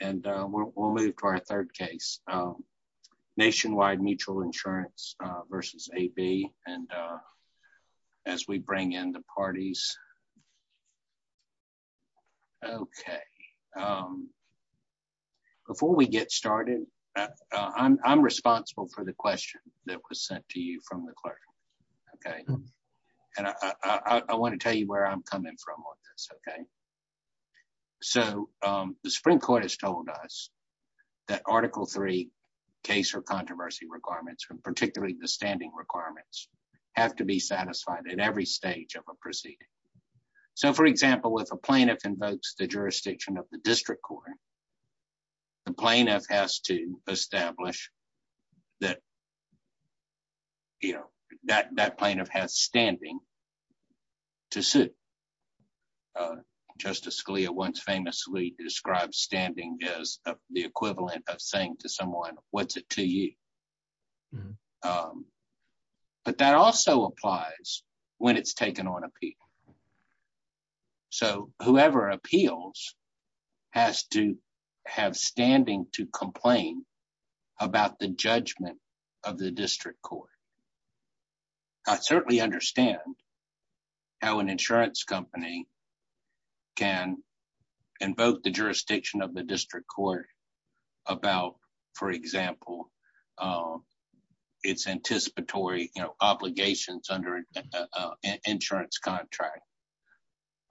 And we'll move to our third case. Nationwide Mutual Insurance versus A.B. And as we bring in the parties. Okay. Before we get started, I'm responsible for the question that was sent to you from the clerk. Okay. And I wanna tell you where I'm coming from on this, okay? So the Supreme Court has told us that Article III case or controversy requirements, particularly the standing requirements, have to be satisfied at every stage of a proceeding. So for example, if a plaintiff invokes the jurisdiction of the district court, the plaintiff has to establish that that plaintiff has standing to suit. Justice Scalia once famously described standing as the equivalent of saying to someone, what's it to you? But that also applies when it's taken on appeal. So whoever appeals has to have standing to complain about the judgment of the district court. I certainly understand how an insurance company can invoke the jurisdiction of the district court about, for example, its anticipatory obligations under an insurance contract.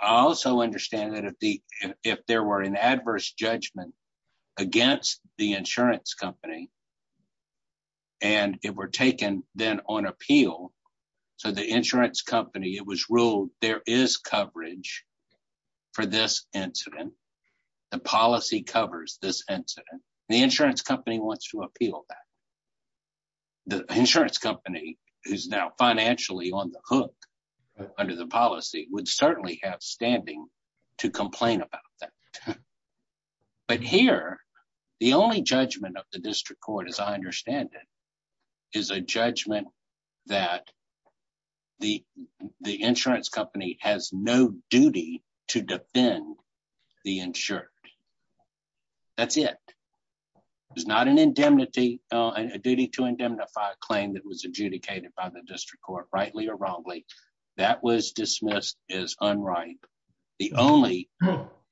I also understand that if there were an adverse judgment against the insurance company and it were taken then on appeal, so the insurance company, it was ruled there is coverage for this incident, the policy covers this incident, the insurance company wants to appeal that. The insurance company, who's now financially on the hook under the policy, would certainly have standing to complain about that. But here, the only judgment of the district court, as I understand it, is a judgment that the insurance company has no duty to defend the insured, that's it. There's not a duty to indemnify a claim that was adjudicated by the district court, rightly or wrongly, that was dismissed as unright. The only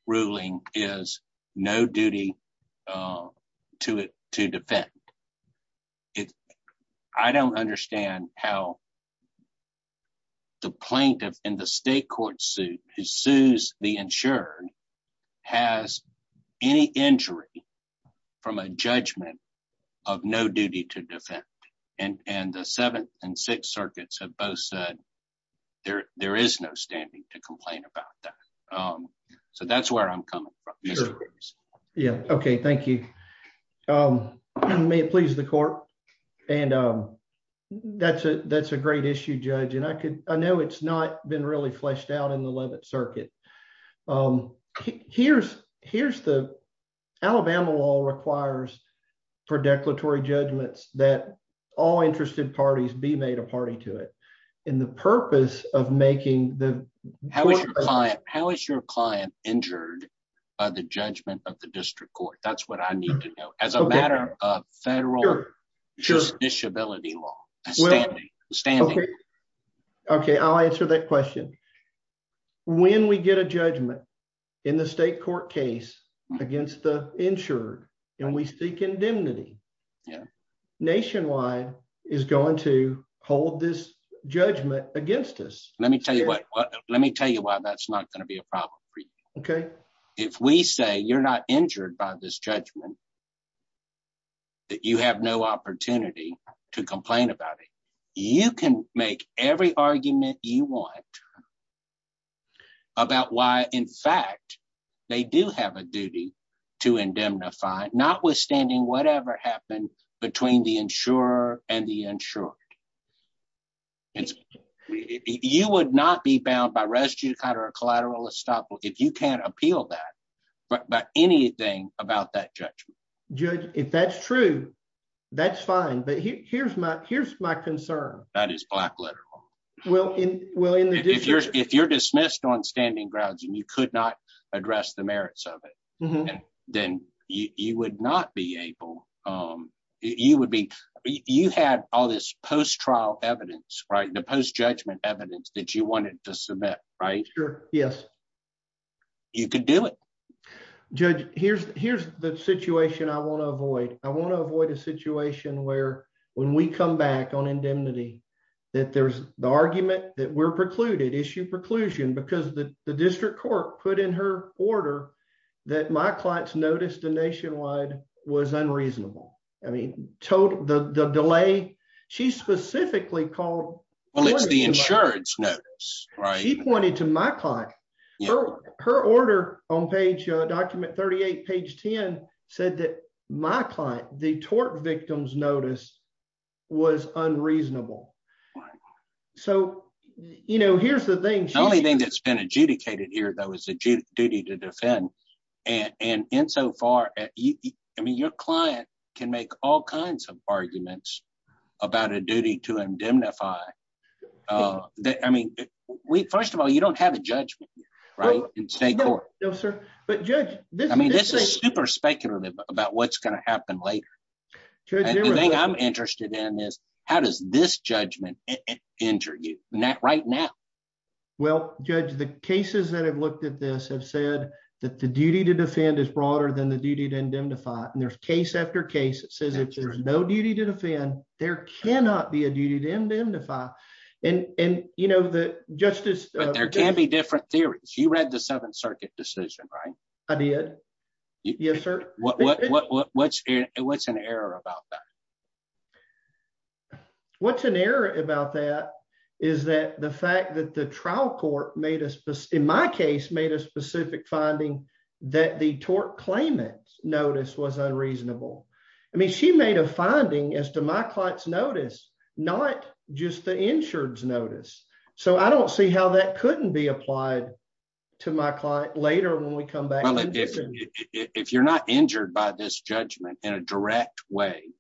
ruling is no duty to defend. I don't understand how the plaintiff in the state court suit, who sues the insured, has any injury from a judgment of no duty to defend. And the Seventh and Sixth Circuits have both said there is no standing to complain about that. So that's where I'm coming from, Mr. Briggs. Yeah, okay, thank you. May it please the court. And that's a great issue, Judge. I know it's not been really fleshed out in the Levitt Circuit. Here's the Alabama law requires for declaratory judgments that all interested parties be made a party to it. And the purpose of making the- How is your client injured by the judgment of the district court? That's what I need to know, as a matter of federal disability law, standing. Okay, I'll answer that question. When we get a judgment in the state court case against the insured, and we seek indemnity, Nationwide is going to hold this judgment against us. Let me tell you why that's not gonna be a problem for you. If we say you're not injured by this judgment, that you have no opportunity to complain about it, you can make every argument you want about why, in fact, they do have a duty to indemnify, notwithstanding whatever happened between the insurer and the insured. You would not be bound by res judicata or collateral estoppel if you can't appeal that, but anything about that judgment. Judge, if that's true, that's fine. But here's my concern. That is black-letter law. Well, in the district- If you're dismissed on standing grounds and you could not address the merits of it, then you would not be able, you would be, you had all this post-trial evidence, right? The post-judgment evidence that you wanted to submit, right? Sure, yes. You could do it. Judge, here's the situation I wanna avoid. I wanna avoid a situation where, when we come back on indemnity, that there's the argument that we're precluded, issue preclusion, because the district court put in her order that my client's notice to Nationwide was unreasonable. I mean, the delay, she specifically called- Well, it's the insurance notice, right? She pointed to my client. Her order on page, document 38, page 10, said that my client, the tort victim's notice was unreasonable. So, you know, here's the thing- The only thing that's been adjudicated here, though, is the duty to defend. And insofar, I mean, your client can make all kinds of arguments about a duty to indemnify. I mean, first of all, you don't have a judgment, right? In state court. No, sir. But Judge- I mean, this is super speculative about what's gonna happen later. Judge- And the thing I'm interested in is, how does this judgment injure you, right now? Well, Judge, the cases that have looked at this have said that the duty to defend is broader than the duty to indemnify. And there's case after case that says if there's no duty to defend, there cannot be a duty to indemnify. And, you know, the justice- But there can be different theories. You read the 7th Circuit decision, right? I did. Yes, sir. What's an error about that? What's an error about that is that the fact that the trial court made a- in my case, made a specific finding that the tort claimant's notice was unreasonable. I mean, she made a finding as to my client's notice, not just the insured's notice. So I don't see how that couldn't be applied to my client later when we come back- Well, if you're not injured by this judgment in a direct way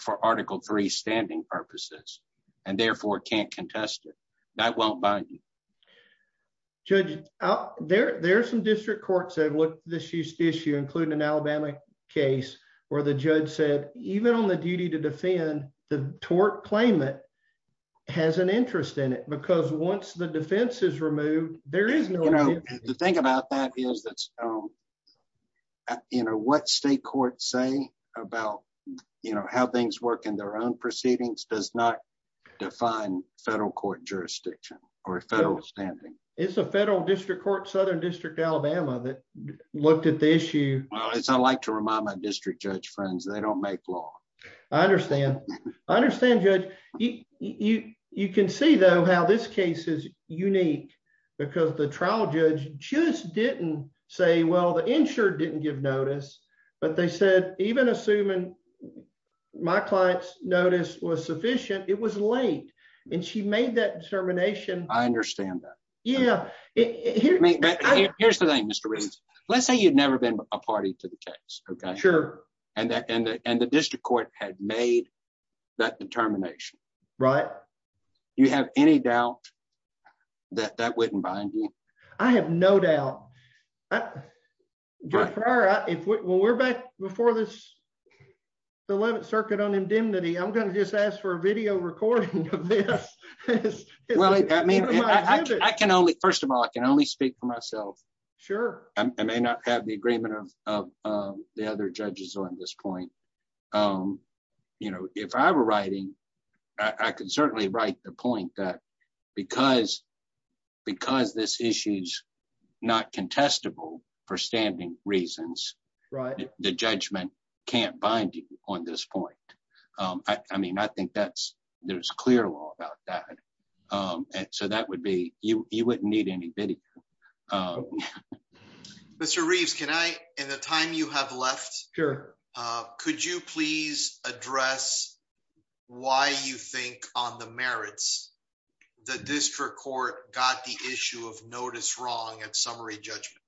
for Article III standing purposes, and therefore can't contest it, that won't bind you. Judge, there are some district courts that have looked at this issue, including an Alabama case where the judge said, even on the duty to defend, the tort claimant has an interest in it because once the defense is removed, there is no- The thing about that is that what state courts say about how things work in their own proceedings does not define federal court jurisdiction or federal standing. It's a federal district court, Southern District, Alabama, that looked at the issue- Well, I like to remind my district judge friends, they don't make law. I understand. I understand, Judge. You can see, though, how this case is unique because the trial judge just didn't say, well, the insured didn't give notice, but they said, even assuming my client's notice was sufficient, it was late, and she made that determination- I understand that. Yeah. Here's the thing, Mr. Reeves. Let's say you'd never been a party to the case, okay? Sure. And the district court had made that determination. Right. Do you have any doubt that that wouldn't bind you? I have no doubt. Judge Farrar, when we're back before this 11th Circuit on indemnity, I'm gonna just ask for a video recording of this. Well, I mean, I can only, first of all, I can only speak for myself. Sure. I may not have the agreement of the other judges on this point. But if I were writing, I could certainly write the point that because this issue's not contestable for standing reasons- Right. The judgment can't bind you on this point. I mean, I think there's clear law about that. So that would be, you wouldn't need any video. Mr. Reeves, can I, in the time you have left- Sure. Could you please address why you think on the merits the district court got the issue of notice wrong at summary judgment?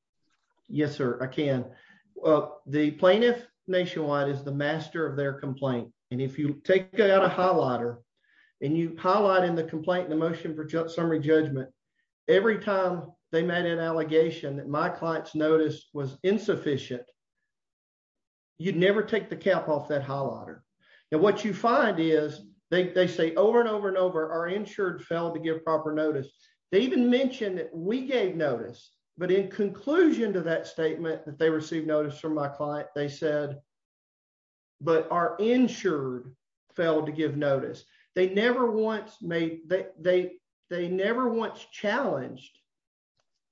Yes, sir, I can. The plaintiff nationwide is the master of their complaint. And if you take out a highlighter and you highlight in the complaint the motion for summary judgment, every time they made an allegation that my client's notice was insufficient, you'd never take the cap off that highlighter. And what you find is, they say over and over and over, our insured failed to give proper notice. They even mentioned that we gave notice, but in conclusion to that statement that they received notice from my client, they said, but our insured failed to give notice. They never once challenged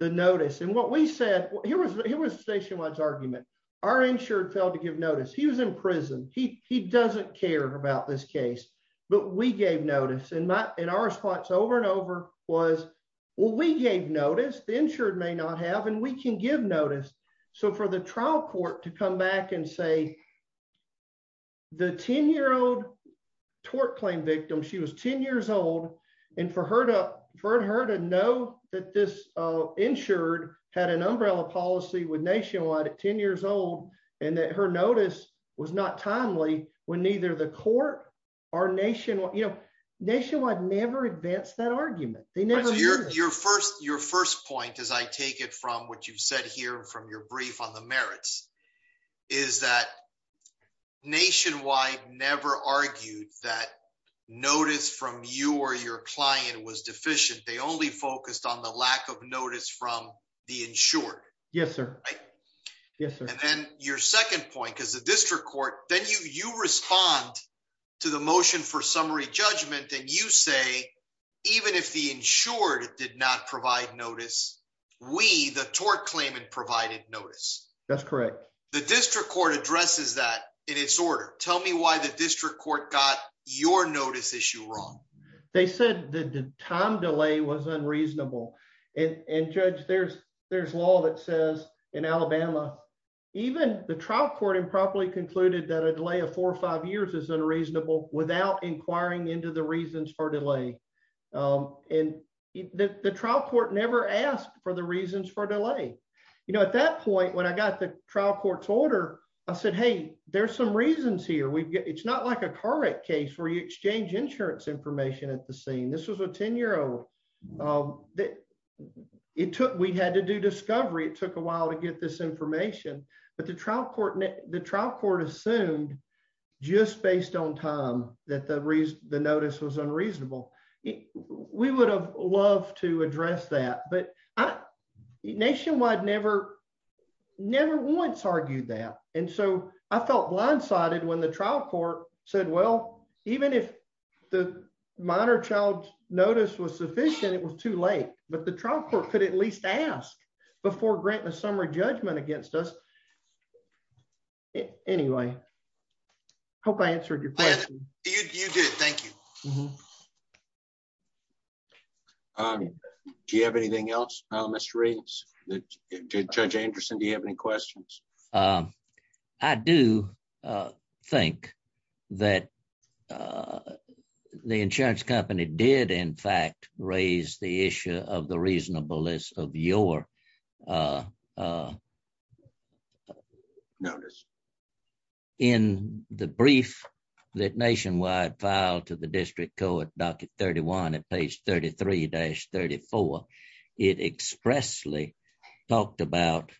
the notice. And what we said, here was the nationwide's argument. Our insured failed to give notice. He was in prison. He doesn't care about this case, but we gave notice. And our response over and over was, well, we gave notice, the insured may not have, and we can give notice. So for the trial court to come back and say, the 10-year-old tort claim victim, she was 10 years old. And for her to know that this insured had an umbrella policy with nationwide at 10 years old, and that her notice was not timely when neither the court or nationwide, nationwide never advanced that argument. They never did. Your first point, as I take it from what you've said here from your brief on the merits, is that nationwide never argued that notice from you or your client was deficient. They only focused on the lack of notice from the insured. Yes, sir. And then your second point, because the district court, then you respond to the motion for summary judgment, and you say, even if the insured did not provide notice, we, the tort claimant, provided notice. That's correct. The district court addresses that in its order. Tell me why the district court got your notice issue wrong. They said the time delay was unreasonable. And judge, there's law that says in Alabama, even the trial court improperly concluded that a delay of four or five years is unreasonable without inquiring into the reasons for delay. And the trial court never asked for the reasons for delay. You know, at that point, when I got the trial court's order, I said, hey, there's some reasons here. It's not like a correct case where you exchange insurance information at the scene. This was a 10 year old. It took, we had to do discovery. It took a while to get this information, but the trial court assumed just based on time that the notice was unreasonable. We would have loved to address that, but Nationwide never once argued that. And so I felt blindsided when the trial court said, well, even if the minor child notice was sufficient, it was too late. But the trial court could at least ask before granting a summary judgment against us. Anyway, hope I answered your question. You did, thank you. Do you have anything else, Mr. Reeves? Judge Anderson, do you have any questions? I do think that the insurance company did in fact raise the issue of the reasonableness of your notice. In the brief that Nationwide filed to the district court, docket 31 at page 33-34, it expressly talked about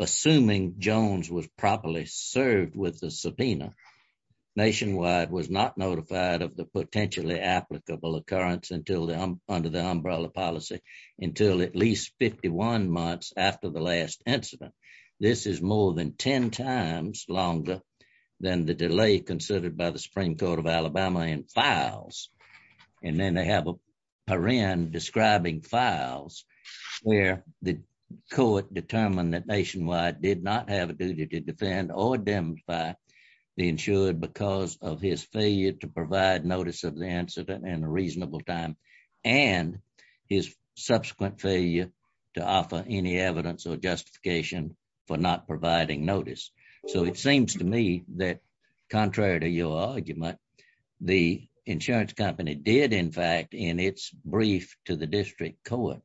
assuming Jones was properly served with the subpoena. Nationwide was not notified of the potentially applicable occurrence under the umbrella policy until at least 51 months after the last incident. This is more than 10 times longer than the delay considered by the Supreme Court of Alabama in files. And then they have a parent describing files where the court determined that Nationwide did not have a duty to defend or identify the insured because of his failure to provide notice of the incident in a reasonable time and his subsequent failure to offer any evidence or justification for not providing notice. So it seems to me that contrary to your argument, the insurance company did in fact in its brief to the district court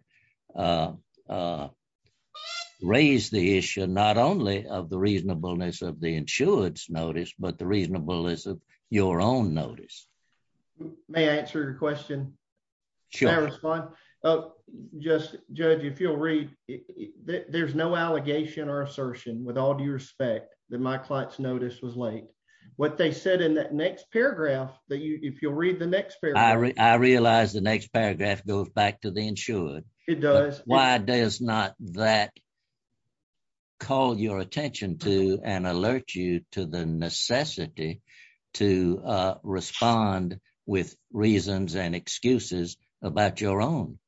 raise the issue not only of the reasonableness of the insured's notice, but the reasonableness of your own notice. May I answer your question? Sure. Can I respond? Just judge, if you'll read, there's no allegation or assertion with all due respect that my client's notice was late. What they said in that next paragraph, that if you'll read the next paragraph. I realize the next paragraph goes back to the insured. It does. Why does not that call your attention to and alert you to the necessity to respond with reasons and excuses about your own?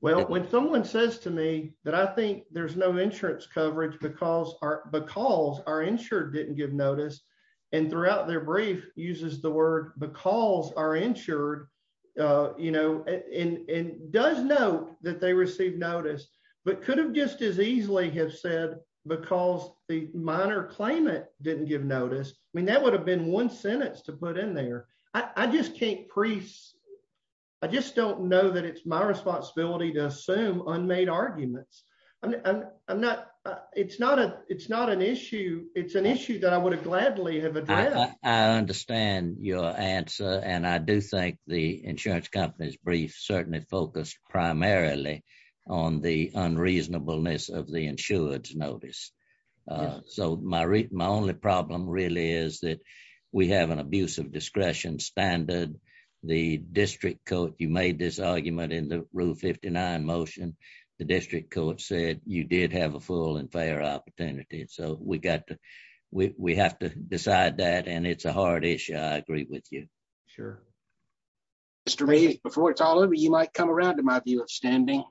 Well, when someone says to me that I think there's no insurance coverage because our insured didn't give notice and throughout their brief uses the word because our insured, and does know that they received notice, but could have just as easily have said because the minor claimant didn't give notice. I mean, that would have been one sentence to put in there. I just can't pre... I just don't know that it's my responsibility to assume unmade arguments. It's not an issue. It's an issue that I would have gladly have addressed. I understand your answer. And I do think the insurance company's brief certainly focused primarily on the unreasonableness of the insured's notice. So my only problem really is that we have an abuse of discretion standard. The district court, you made this argument in the rule 59 motion. The district court said you did have a full and fair opportunity. So we got to, we have to decide that. And it's a hard issue. I agree with you. Sure. Mr. Reeves, before it's all over, you might come around to my view of standing.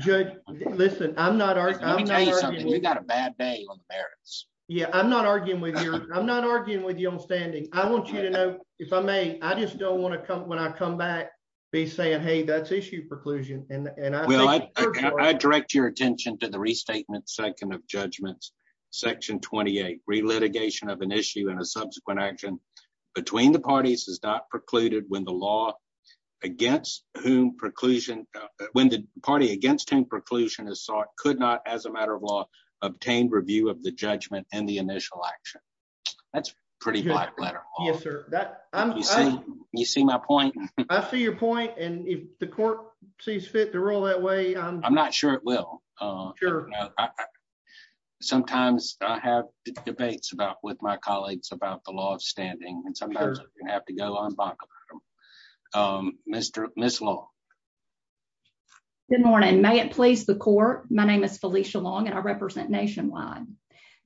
Judge, listen, I'm not arguing. Let me tell you something, you got a bad day on the merits. Yeah, I'm not arguing with you. I'm not arguing with you on standing. I want you to know, if I may, I just don't want to come, when I come back, be saying, hey, that's issue preclusion. And I think- Well, I direct your attention to the restatement second of judgments, section 28, re-litigation of an issue and a subsequent action between the parties is not precluded when the law against whom preclusion, when the party against whom preclusion is sought could not, as a matter of law, obtain review of the judgment and the initial action. That's pretty black letter. Yes, sir. You see my point? I see your point. And if the court sees fit to roll that way- I'm not sure it will. Sure. Sometimes I have debates about, with my colleagues about the law of standing and sometimes I have to go unbuckled. Ms. Long. Good morning. May it please the court. My name is Felicia Long and I represent Nationwide.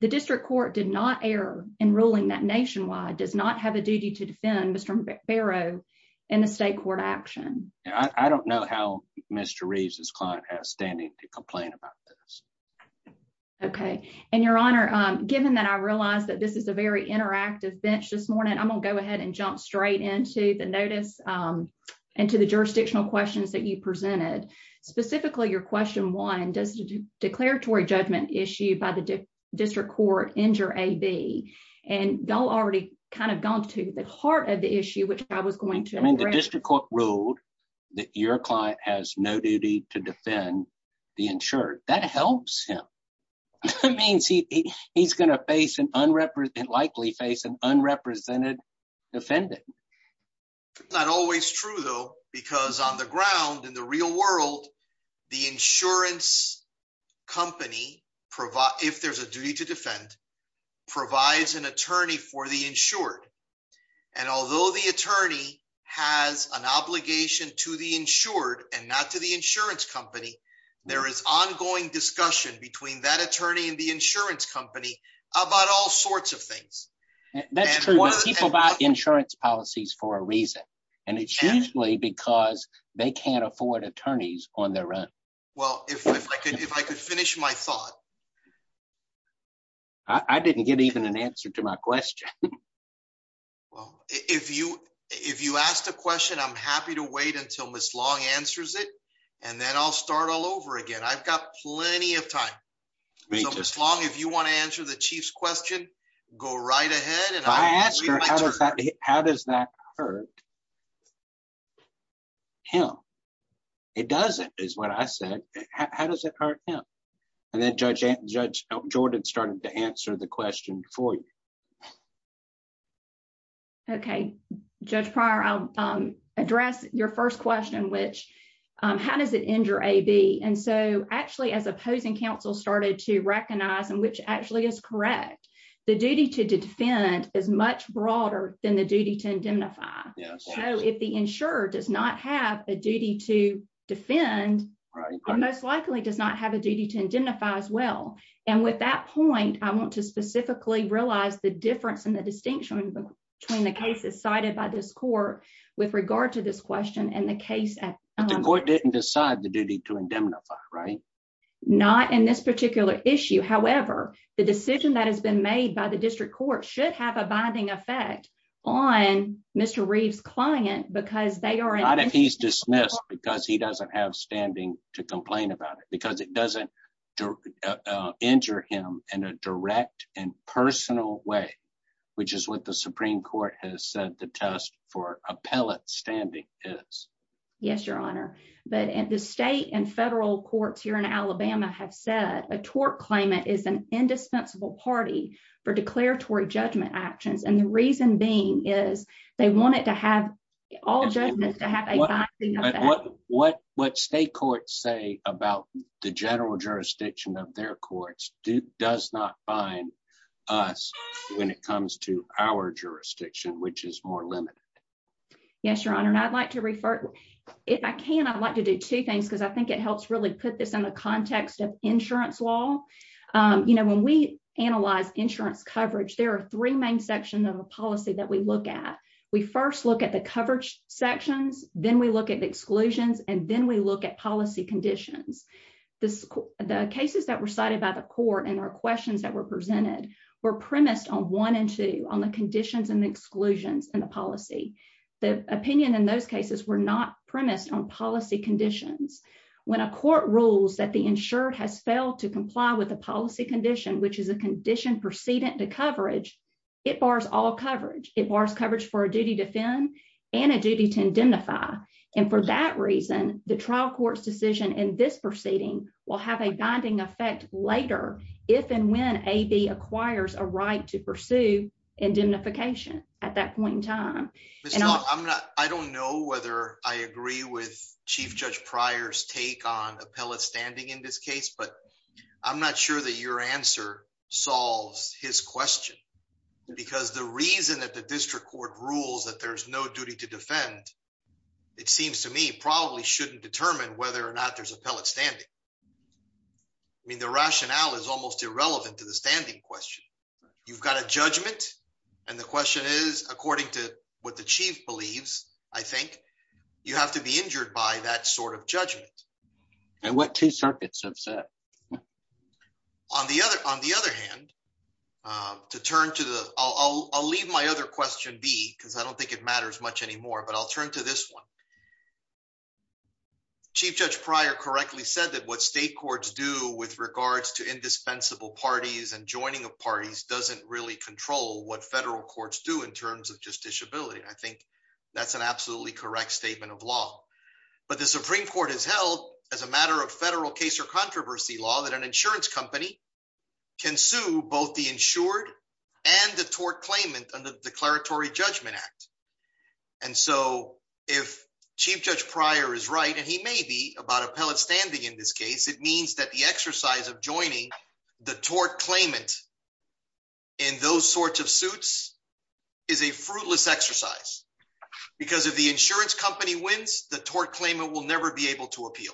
The district court did not err in ruling that Nationwide does not have a duty to defend Mr. Ferro in a state court action. Yeah, I don't know how Mr. Reeves' client has standing to complain about this. Okay. And your honor, given that I realized that this is a very interactive bench this morning, I'm gonna go ahead and jump straight into the notice and to the jurisdictional questions that you presented. Specifically your question one, does the declaratory judgment issue by the district court injure AB? And y'all already kind of gone to the heart of the issue, which I was going to address. I mean, the district court ruled that your client has no duty to defend the insured. That helps him. It means he's gonna face an unrepresented, likely face an unrepresented defendant. Not always true though, because on the ground in the real world, the insurance company, if there's a duty to defend, provides an attorney for the insured. And although the attorney has an obligation to the insured and not to the insurance company, there is ongoing discussion between that attorney and the insurance company about all sorts of things. That's true. People buy insurance policies for a reason. And it's usually because they can't afford attorneys on their run. Well, if I could finish my thought. I didn't get even an answer to my question. Well, if you asked a question, I'm happy to wait until Ms. Long answers it, and then I'll start all over again. I've got plenty of time. So Ms. Long, if you wanna answer the chief's question, go right ahead and I'll read my turn. How does that hurt him? It doesn't, is what I said. How does it hurt him? And then Judge Jordan started to answer the question for you. Okay. Judge Pryor, I'll address your first question, which how does it injure AB? And so actually as opposing counsel started to recognize, and which actually is correct, the duty to defend is much broader than the duty to indemnify. So if the insurer does not have a duty to defend, it most likely does not have a duty to indemnify as well. And with that point, I want to specifically realize the difference in the distinction between the cases cited by this court with regard to this question and the case at- The court didn't decide the duty to indemnify, right? Not in this particular issue. However, the decision that has been made by the district court should have a binding effect on Mr. Reeves' client because they are- Not if he's dismissed because he doesn't have standing to complain about it, because it doesn't injure him in a direct and personal way, which is what the Supreme Court has said the test for appellate standing is. Yes, Your Honor. But the state and federal courts here in Alabama have said a tort claimant is an indispensable party for declaratory judgment actions. And the reason being is they want it to have all judgments to have a binding effect. What state courts say about the general jurisdiction of their courts does not bind us when it comes to our jurisdiction, which is more limited. Yes, Your Honor. And I'd like to refer- If I can, I'd like to do two things because I think it helps really put this in the context of insurance law. You know, when we analyze insurance coverage, there are three main sections of a policy that we look at. We first look at the coverage sections, then we look at the exclusions, and then we look at policy conditions. The cases that were cited by the court and our questions that were presented were premised on one and two, on the conditions and the exclusions in the policy. The opinion in those cases were not premised on policy conditions. When a court rules that the insured has failed to comply with a policy condition, which is a condition precedent to coverage, it bars all coverage. It bars coverage for a duty to defend and a duty to indemnify. And for that reason, the trial court's decision in this proceeding will have a binding effect later if and when AB acquires a right to pursue indemnification at that point in time. Ms. Long, I don't know whether I agree with Chief Judge Pryor's take on appellate standing in this case, but I'm not sure that your answer solves his question because the reason that the district court rules that there's no duty to defend, it seems to me probably shouldn't determine whether or not there's appellate standing. I mean, the rationale is almost irrelevant to the standing question. You've got a judgment, and the question is, according to what the chief believes, I think, you have to be injured by that sort of judgment. And what two circuits have said. On the other hand, to turn to the, I'll leave my other question be, because I don't think it matters much anymore, but I'll turn to this one. Chief Judge Pryor correctly said that what state courts do with regards to indispensable parties and joining of parties doesn't really control what federal courts do in terms of justiciability. I think that's an absolutely correct statement of law. But the Supreme Court has held as a matter of federal case or controversy law that an insurance company can sue both the insured and the tort claimant under the Declaratory Judgment Act. And so if Chief Judge Pryor is right, and he may be about appellate standing in this case, it means that the exercise of joining the tort claimant in those sorts of suits is a fruitless exercise because if the insurance company wins, the tort claimant will never be able to appeal.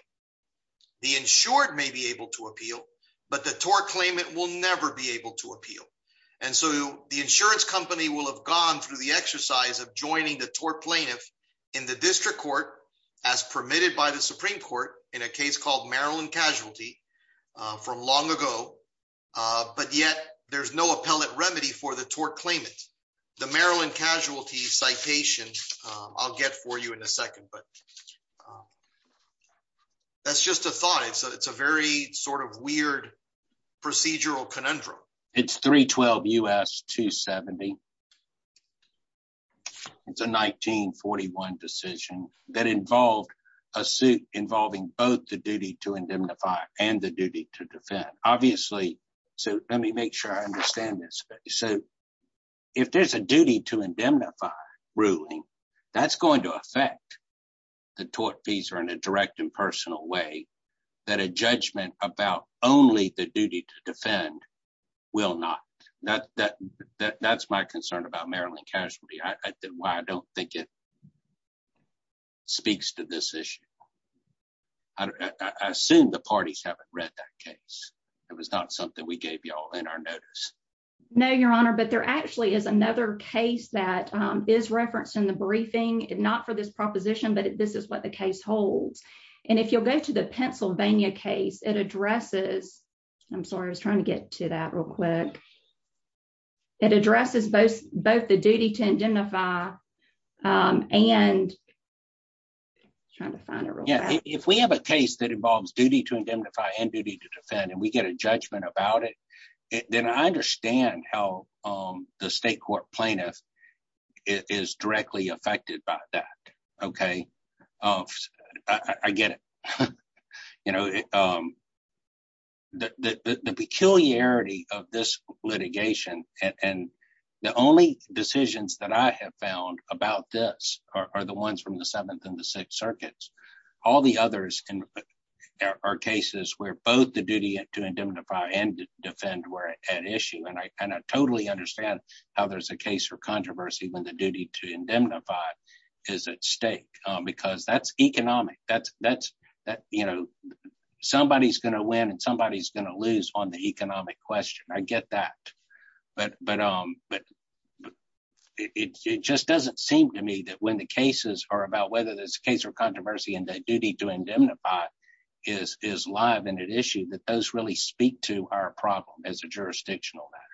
The insured may be able to appeal, but the tort claimant will never be able to appeal. And so the insurance company will have gone through the exercise of joining the tort plaintiff in the district court as permitted by the Supreme Court in a case called Maryland Casualty from long ago, but yet there's no appellate remedy for the tort claimant. The Maryland Casualty Citation, I'll get for you in a second, but that's just a thought. It's a very sort of weird procedural conundrum. It's 312 U.S. 270. It's a 1941 decision that involved a suit involving both the duty to indemnify and the duty to defend. Obviously, so let me make sure I understand this. So if there's a duty to indemnify ruling, that's going to affect the tort fees or in a direct and personal way that a judgment about only the duty to defend will not. That's my concern about Maryland Casualty. I think why I don't think it speaks to this issue. I assume the parties haven't read that case. It was not something we gave y'all in our notice. No, Your Honor, but there actually is another case that is referenced in the briefing, not for this proposition, but this is what the case holds. And if you'll go to the Pennsylvania case, it addresses, I'm sorry, I was trying to get to that real quick. It addresses both the duty to indemnify and trying to find a real- Yeah, if we have a case that involves duty to indemnify and duty to defend, and we get a judgment about it, then I understand how the state court plaintiff is directly affected by that, okay? I get it. The peculiarity of this litigation, and the only decisions that I have found about this are the ones from the Seventh and the Sixth Circuits. All the others are cases where both the duty to indemnify and defend were at issue. And I totally understand how there's a case for controversy when the duty to indemnify is at stake, because that's economic. Somebody's gonna win and somebody's gonna lose on the economic question. I get that. It just doesn't seem to me that when the cases are about whether there's a case for controversy and the duty to indemnify is live and at issue, that those really speak to our problem as a jurisdictional matter.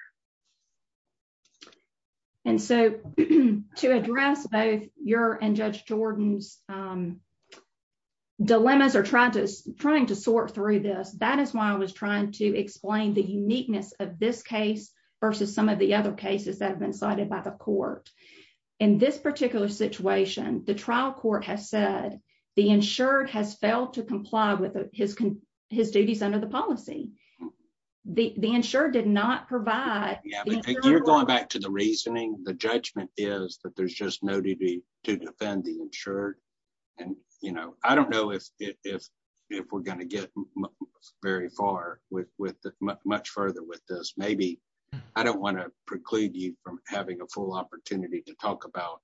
And so to address both your and Judge Jordan's dilemmas or trying to sort through this, that is why I was trying to explain the uniqueness of this case versus some of the other cases that have been cited by the court. In this particular situation, the trial court has said the insured has failed to comply with his duties under the policy. The insured did not provide- Yeah, but you're going back to the reasoning. The judgment is that there's just no duty to defend the insured. And I don't know if we're gonna get very far with much further with this. Maybe I don't wanna preclude you from having a full opportunity to talk about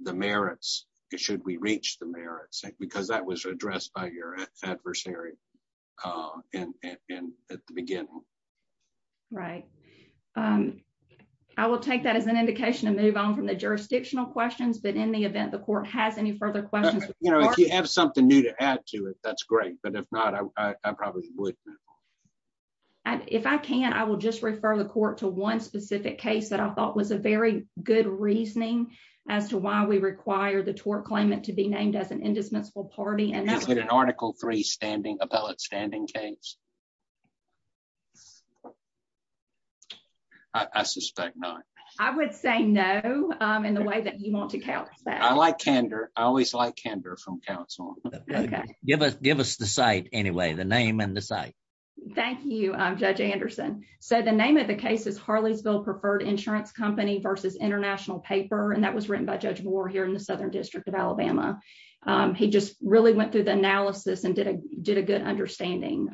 the merits. Should we reach the merits? Because that was addressed by your adversary and at the beginning. Right. I will take that as an indication to move on from the jurisdictional questions, but in the event the court has any further questions- You know, if you have something new to add to it, that's great. But if not, I probably wouldn't. If I can, I will just refer the court to one specific case that I thought was a very good reasoning as to why we require the tort claimant to be named as an indispensable party. And that was- Is it an article three standing, appellate standing case? I suspect not. I would say no in the way that you want to count that. I like candor. I always like candor from counsel. Okay. Give us the site anyway, the name and the site. Thank you, Judge Anderson. So the name of the case is Harleysville Preferred Insurance Company versus International Paper. And that was written by Judge Moore here in the Southern District of Alabama. He just really went through the analysis and did a good understanding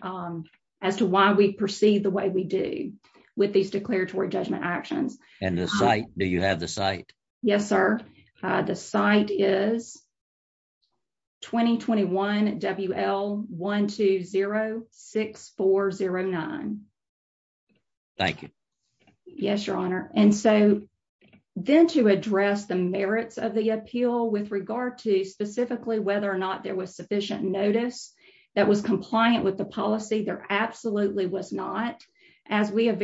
as to why we proceed the way we do with these declaratory judgment actions. And the site, do you have the site? Yes, sir. The site is 2021 WL1206409. Thank you. Yes, Your Honor. And so then to address the merits of the appeal with regard to specifically whether or not there was sufficient notice that was compliant with the policy, there absolutely was not. As we have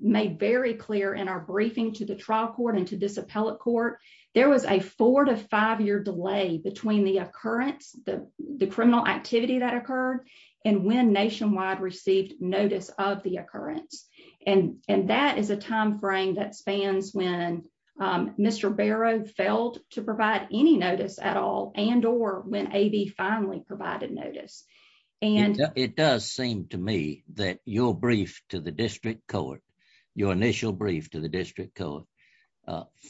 made very clear in our briefing to the trial court and to this appellate court, there was a four to five year delay between the occurrence, the criminal activity that occurred and when Nationwide received notice of the occurrence. And that is a timeframe that spans when Mr. Barrow failed to provide any notice at all and or when AB finally provided notice. And- It does seem to me that your brief to the district court, your initial brief to the district court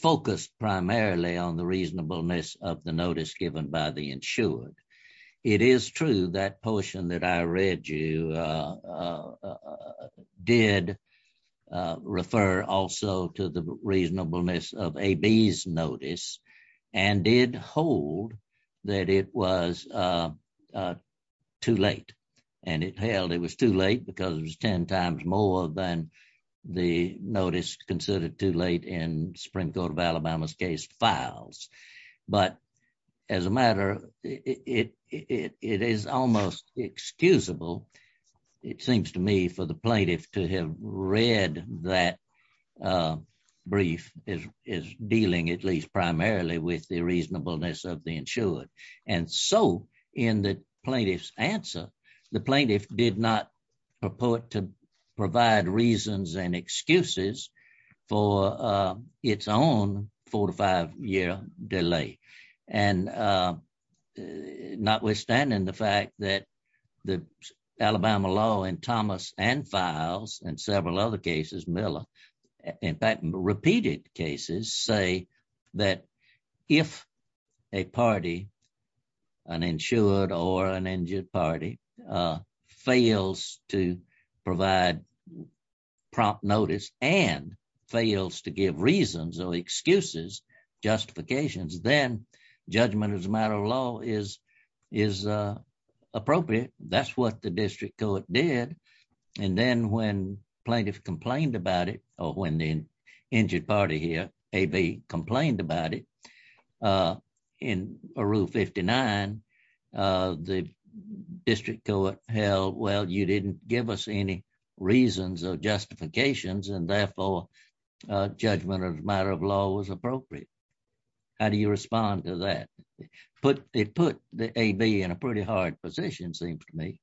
focused primarily on the reasonableness of the notice given by the insured. It is true that portion that I read you did refer also to the reasonableness of AB's notice and did hold that it was too late. And it held it was too late because it was 10 times more than the notice considered too late in Supreme Court of Alabama's case files. But as a matter, it is almost excusable it seems to me for the plaintiff to have read that brief is dealing at least primarily with the reasonableness of the insured. And so in the plaintiff's answer, the plaintiff did not purport to provide reasons and excuses for its own four to five year delay. And not withstanding the fact that Alabama law in Thomas and files and several other cases Miller, in fact, repeated cases say that if a party, an insured or an injured party fails to provide prompt notice and fails to give reasons or excuses, justifications, then judgment as a matter of law is appropriate. That's what the district court did. And then when plaintiff complained about it or when the injured party here, AB complained about it in a rule 59, the district court held, well, you didn't give us any reasons or justifications and therefore judgment as a matter of law was appropriate. How do you respond to that? It put the AB in a pretty hard position seems to me.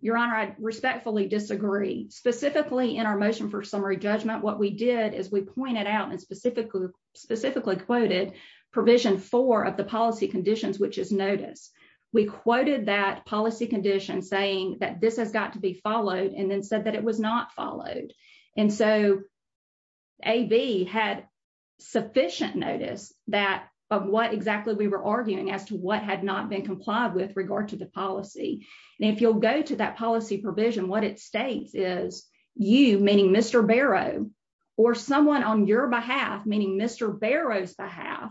Your honor, I respectfully disagree. Specifically in our motion for summary judgment, what we did is we pointed out and specifically quoted provision four of the policy conditions, which is notice. We quoted that policy condition saying that this has got to be followed and then said that it was not followed. And so AB had sufficient notice of what exactly we were arguing as to what had not been complied with regard to the policy. And if you'll go to that policy provision, what it states is you, meaning Mr. Barrow or someone on your behalf, meaning Mr. Barrow's behalf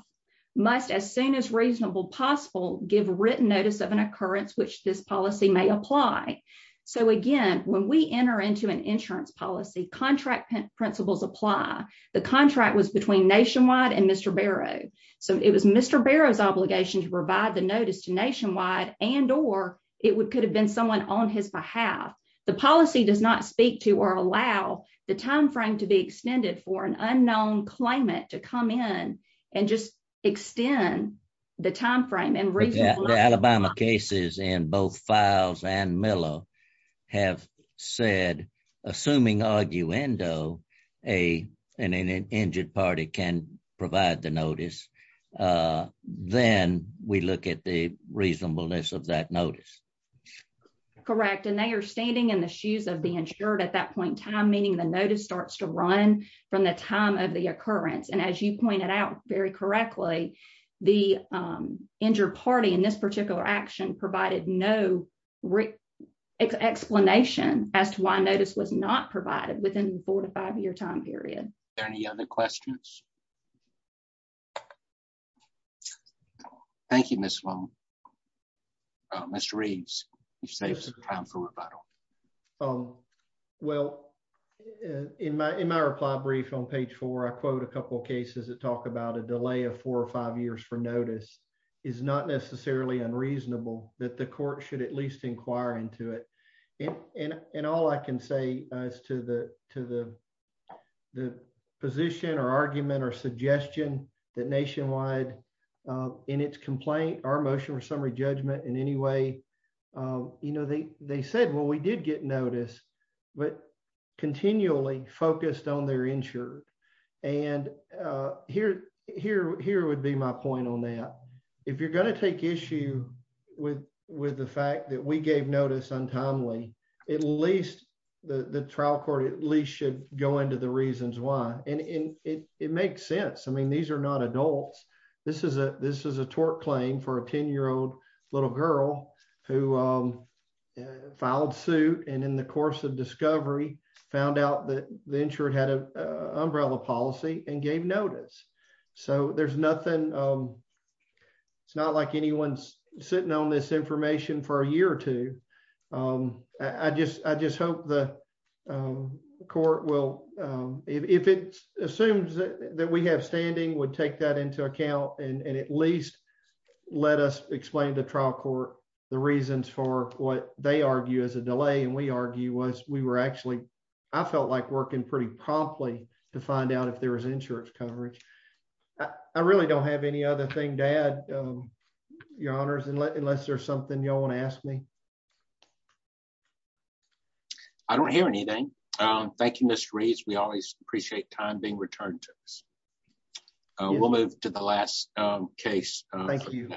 must as soon as reasonable possible give written notice of an occurrence, which this policy may apply. So again, when we enter into an insurance policy, contract principles apply. The contract was between Nationwide and Mr. Barrow. So it was Mr. Barrow's obligation to provide the notice to Nationwide and or it would could have been someone on his behalf. The policy does not speak to or allow the timeframe to be extended for an unknown claimant to come in and just extend the timeframe and reason. The Alabama cases in both Files and Miller have said, assuming arguendo and an injured party can provide the notice, then we look at the reasonableness of that notice. Correct, and they are standing in the shoes of the insured at that point in time, meaning the notice starts to run from the time of the occurrence. And as you pointed out very correctly, the injured party in this particular action provided no explanation as to why notice was not provided within the four to five year time period. Are there any other questions? Thank you, Ms. Sloan. Mr. Reeves, you saved some time for rebuttal. Well, in my reply brief on page four, I quote a couple of cases that talk about a delay of four or five years for notice is not necessarily unreasonable that the court should at least inquire into it. And all I can say is to the position or argument or suggestion that Nationwide in its complaint, our motion or summary judgment in any way, they said, well, we did get notice, but continually focused on their insured. And here would be my point on that. If you're gonna take issue with the fact that we gave notice untimely, at least the trial court at least should go into the reasons why. And it makes sense. I mean, these are not adults. This is a tort claim for a 10 year old little girl who filed suit and in the course of discovery, found out that the insured had a umbrella policy and gave notice. So there's nothing, it's not like anyone's sitting on this information for a year or two. I just hope the court will, if it assumes that we have standing would take that into account and at least let us explain to trial court the reasons for what they argue as a delay. And we argue was we were actually, I felt like working pretty promptly to find out if there was insurance coverage. I really don't have any other thing to add, your honors, unless there's something y'all wanna ask me. I don't hear anything. Thank you, Mr. Reeves. We always appreciate time being returned to us. We'll move to the last case. Thank you.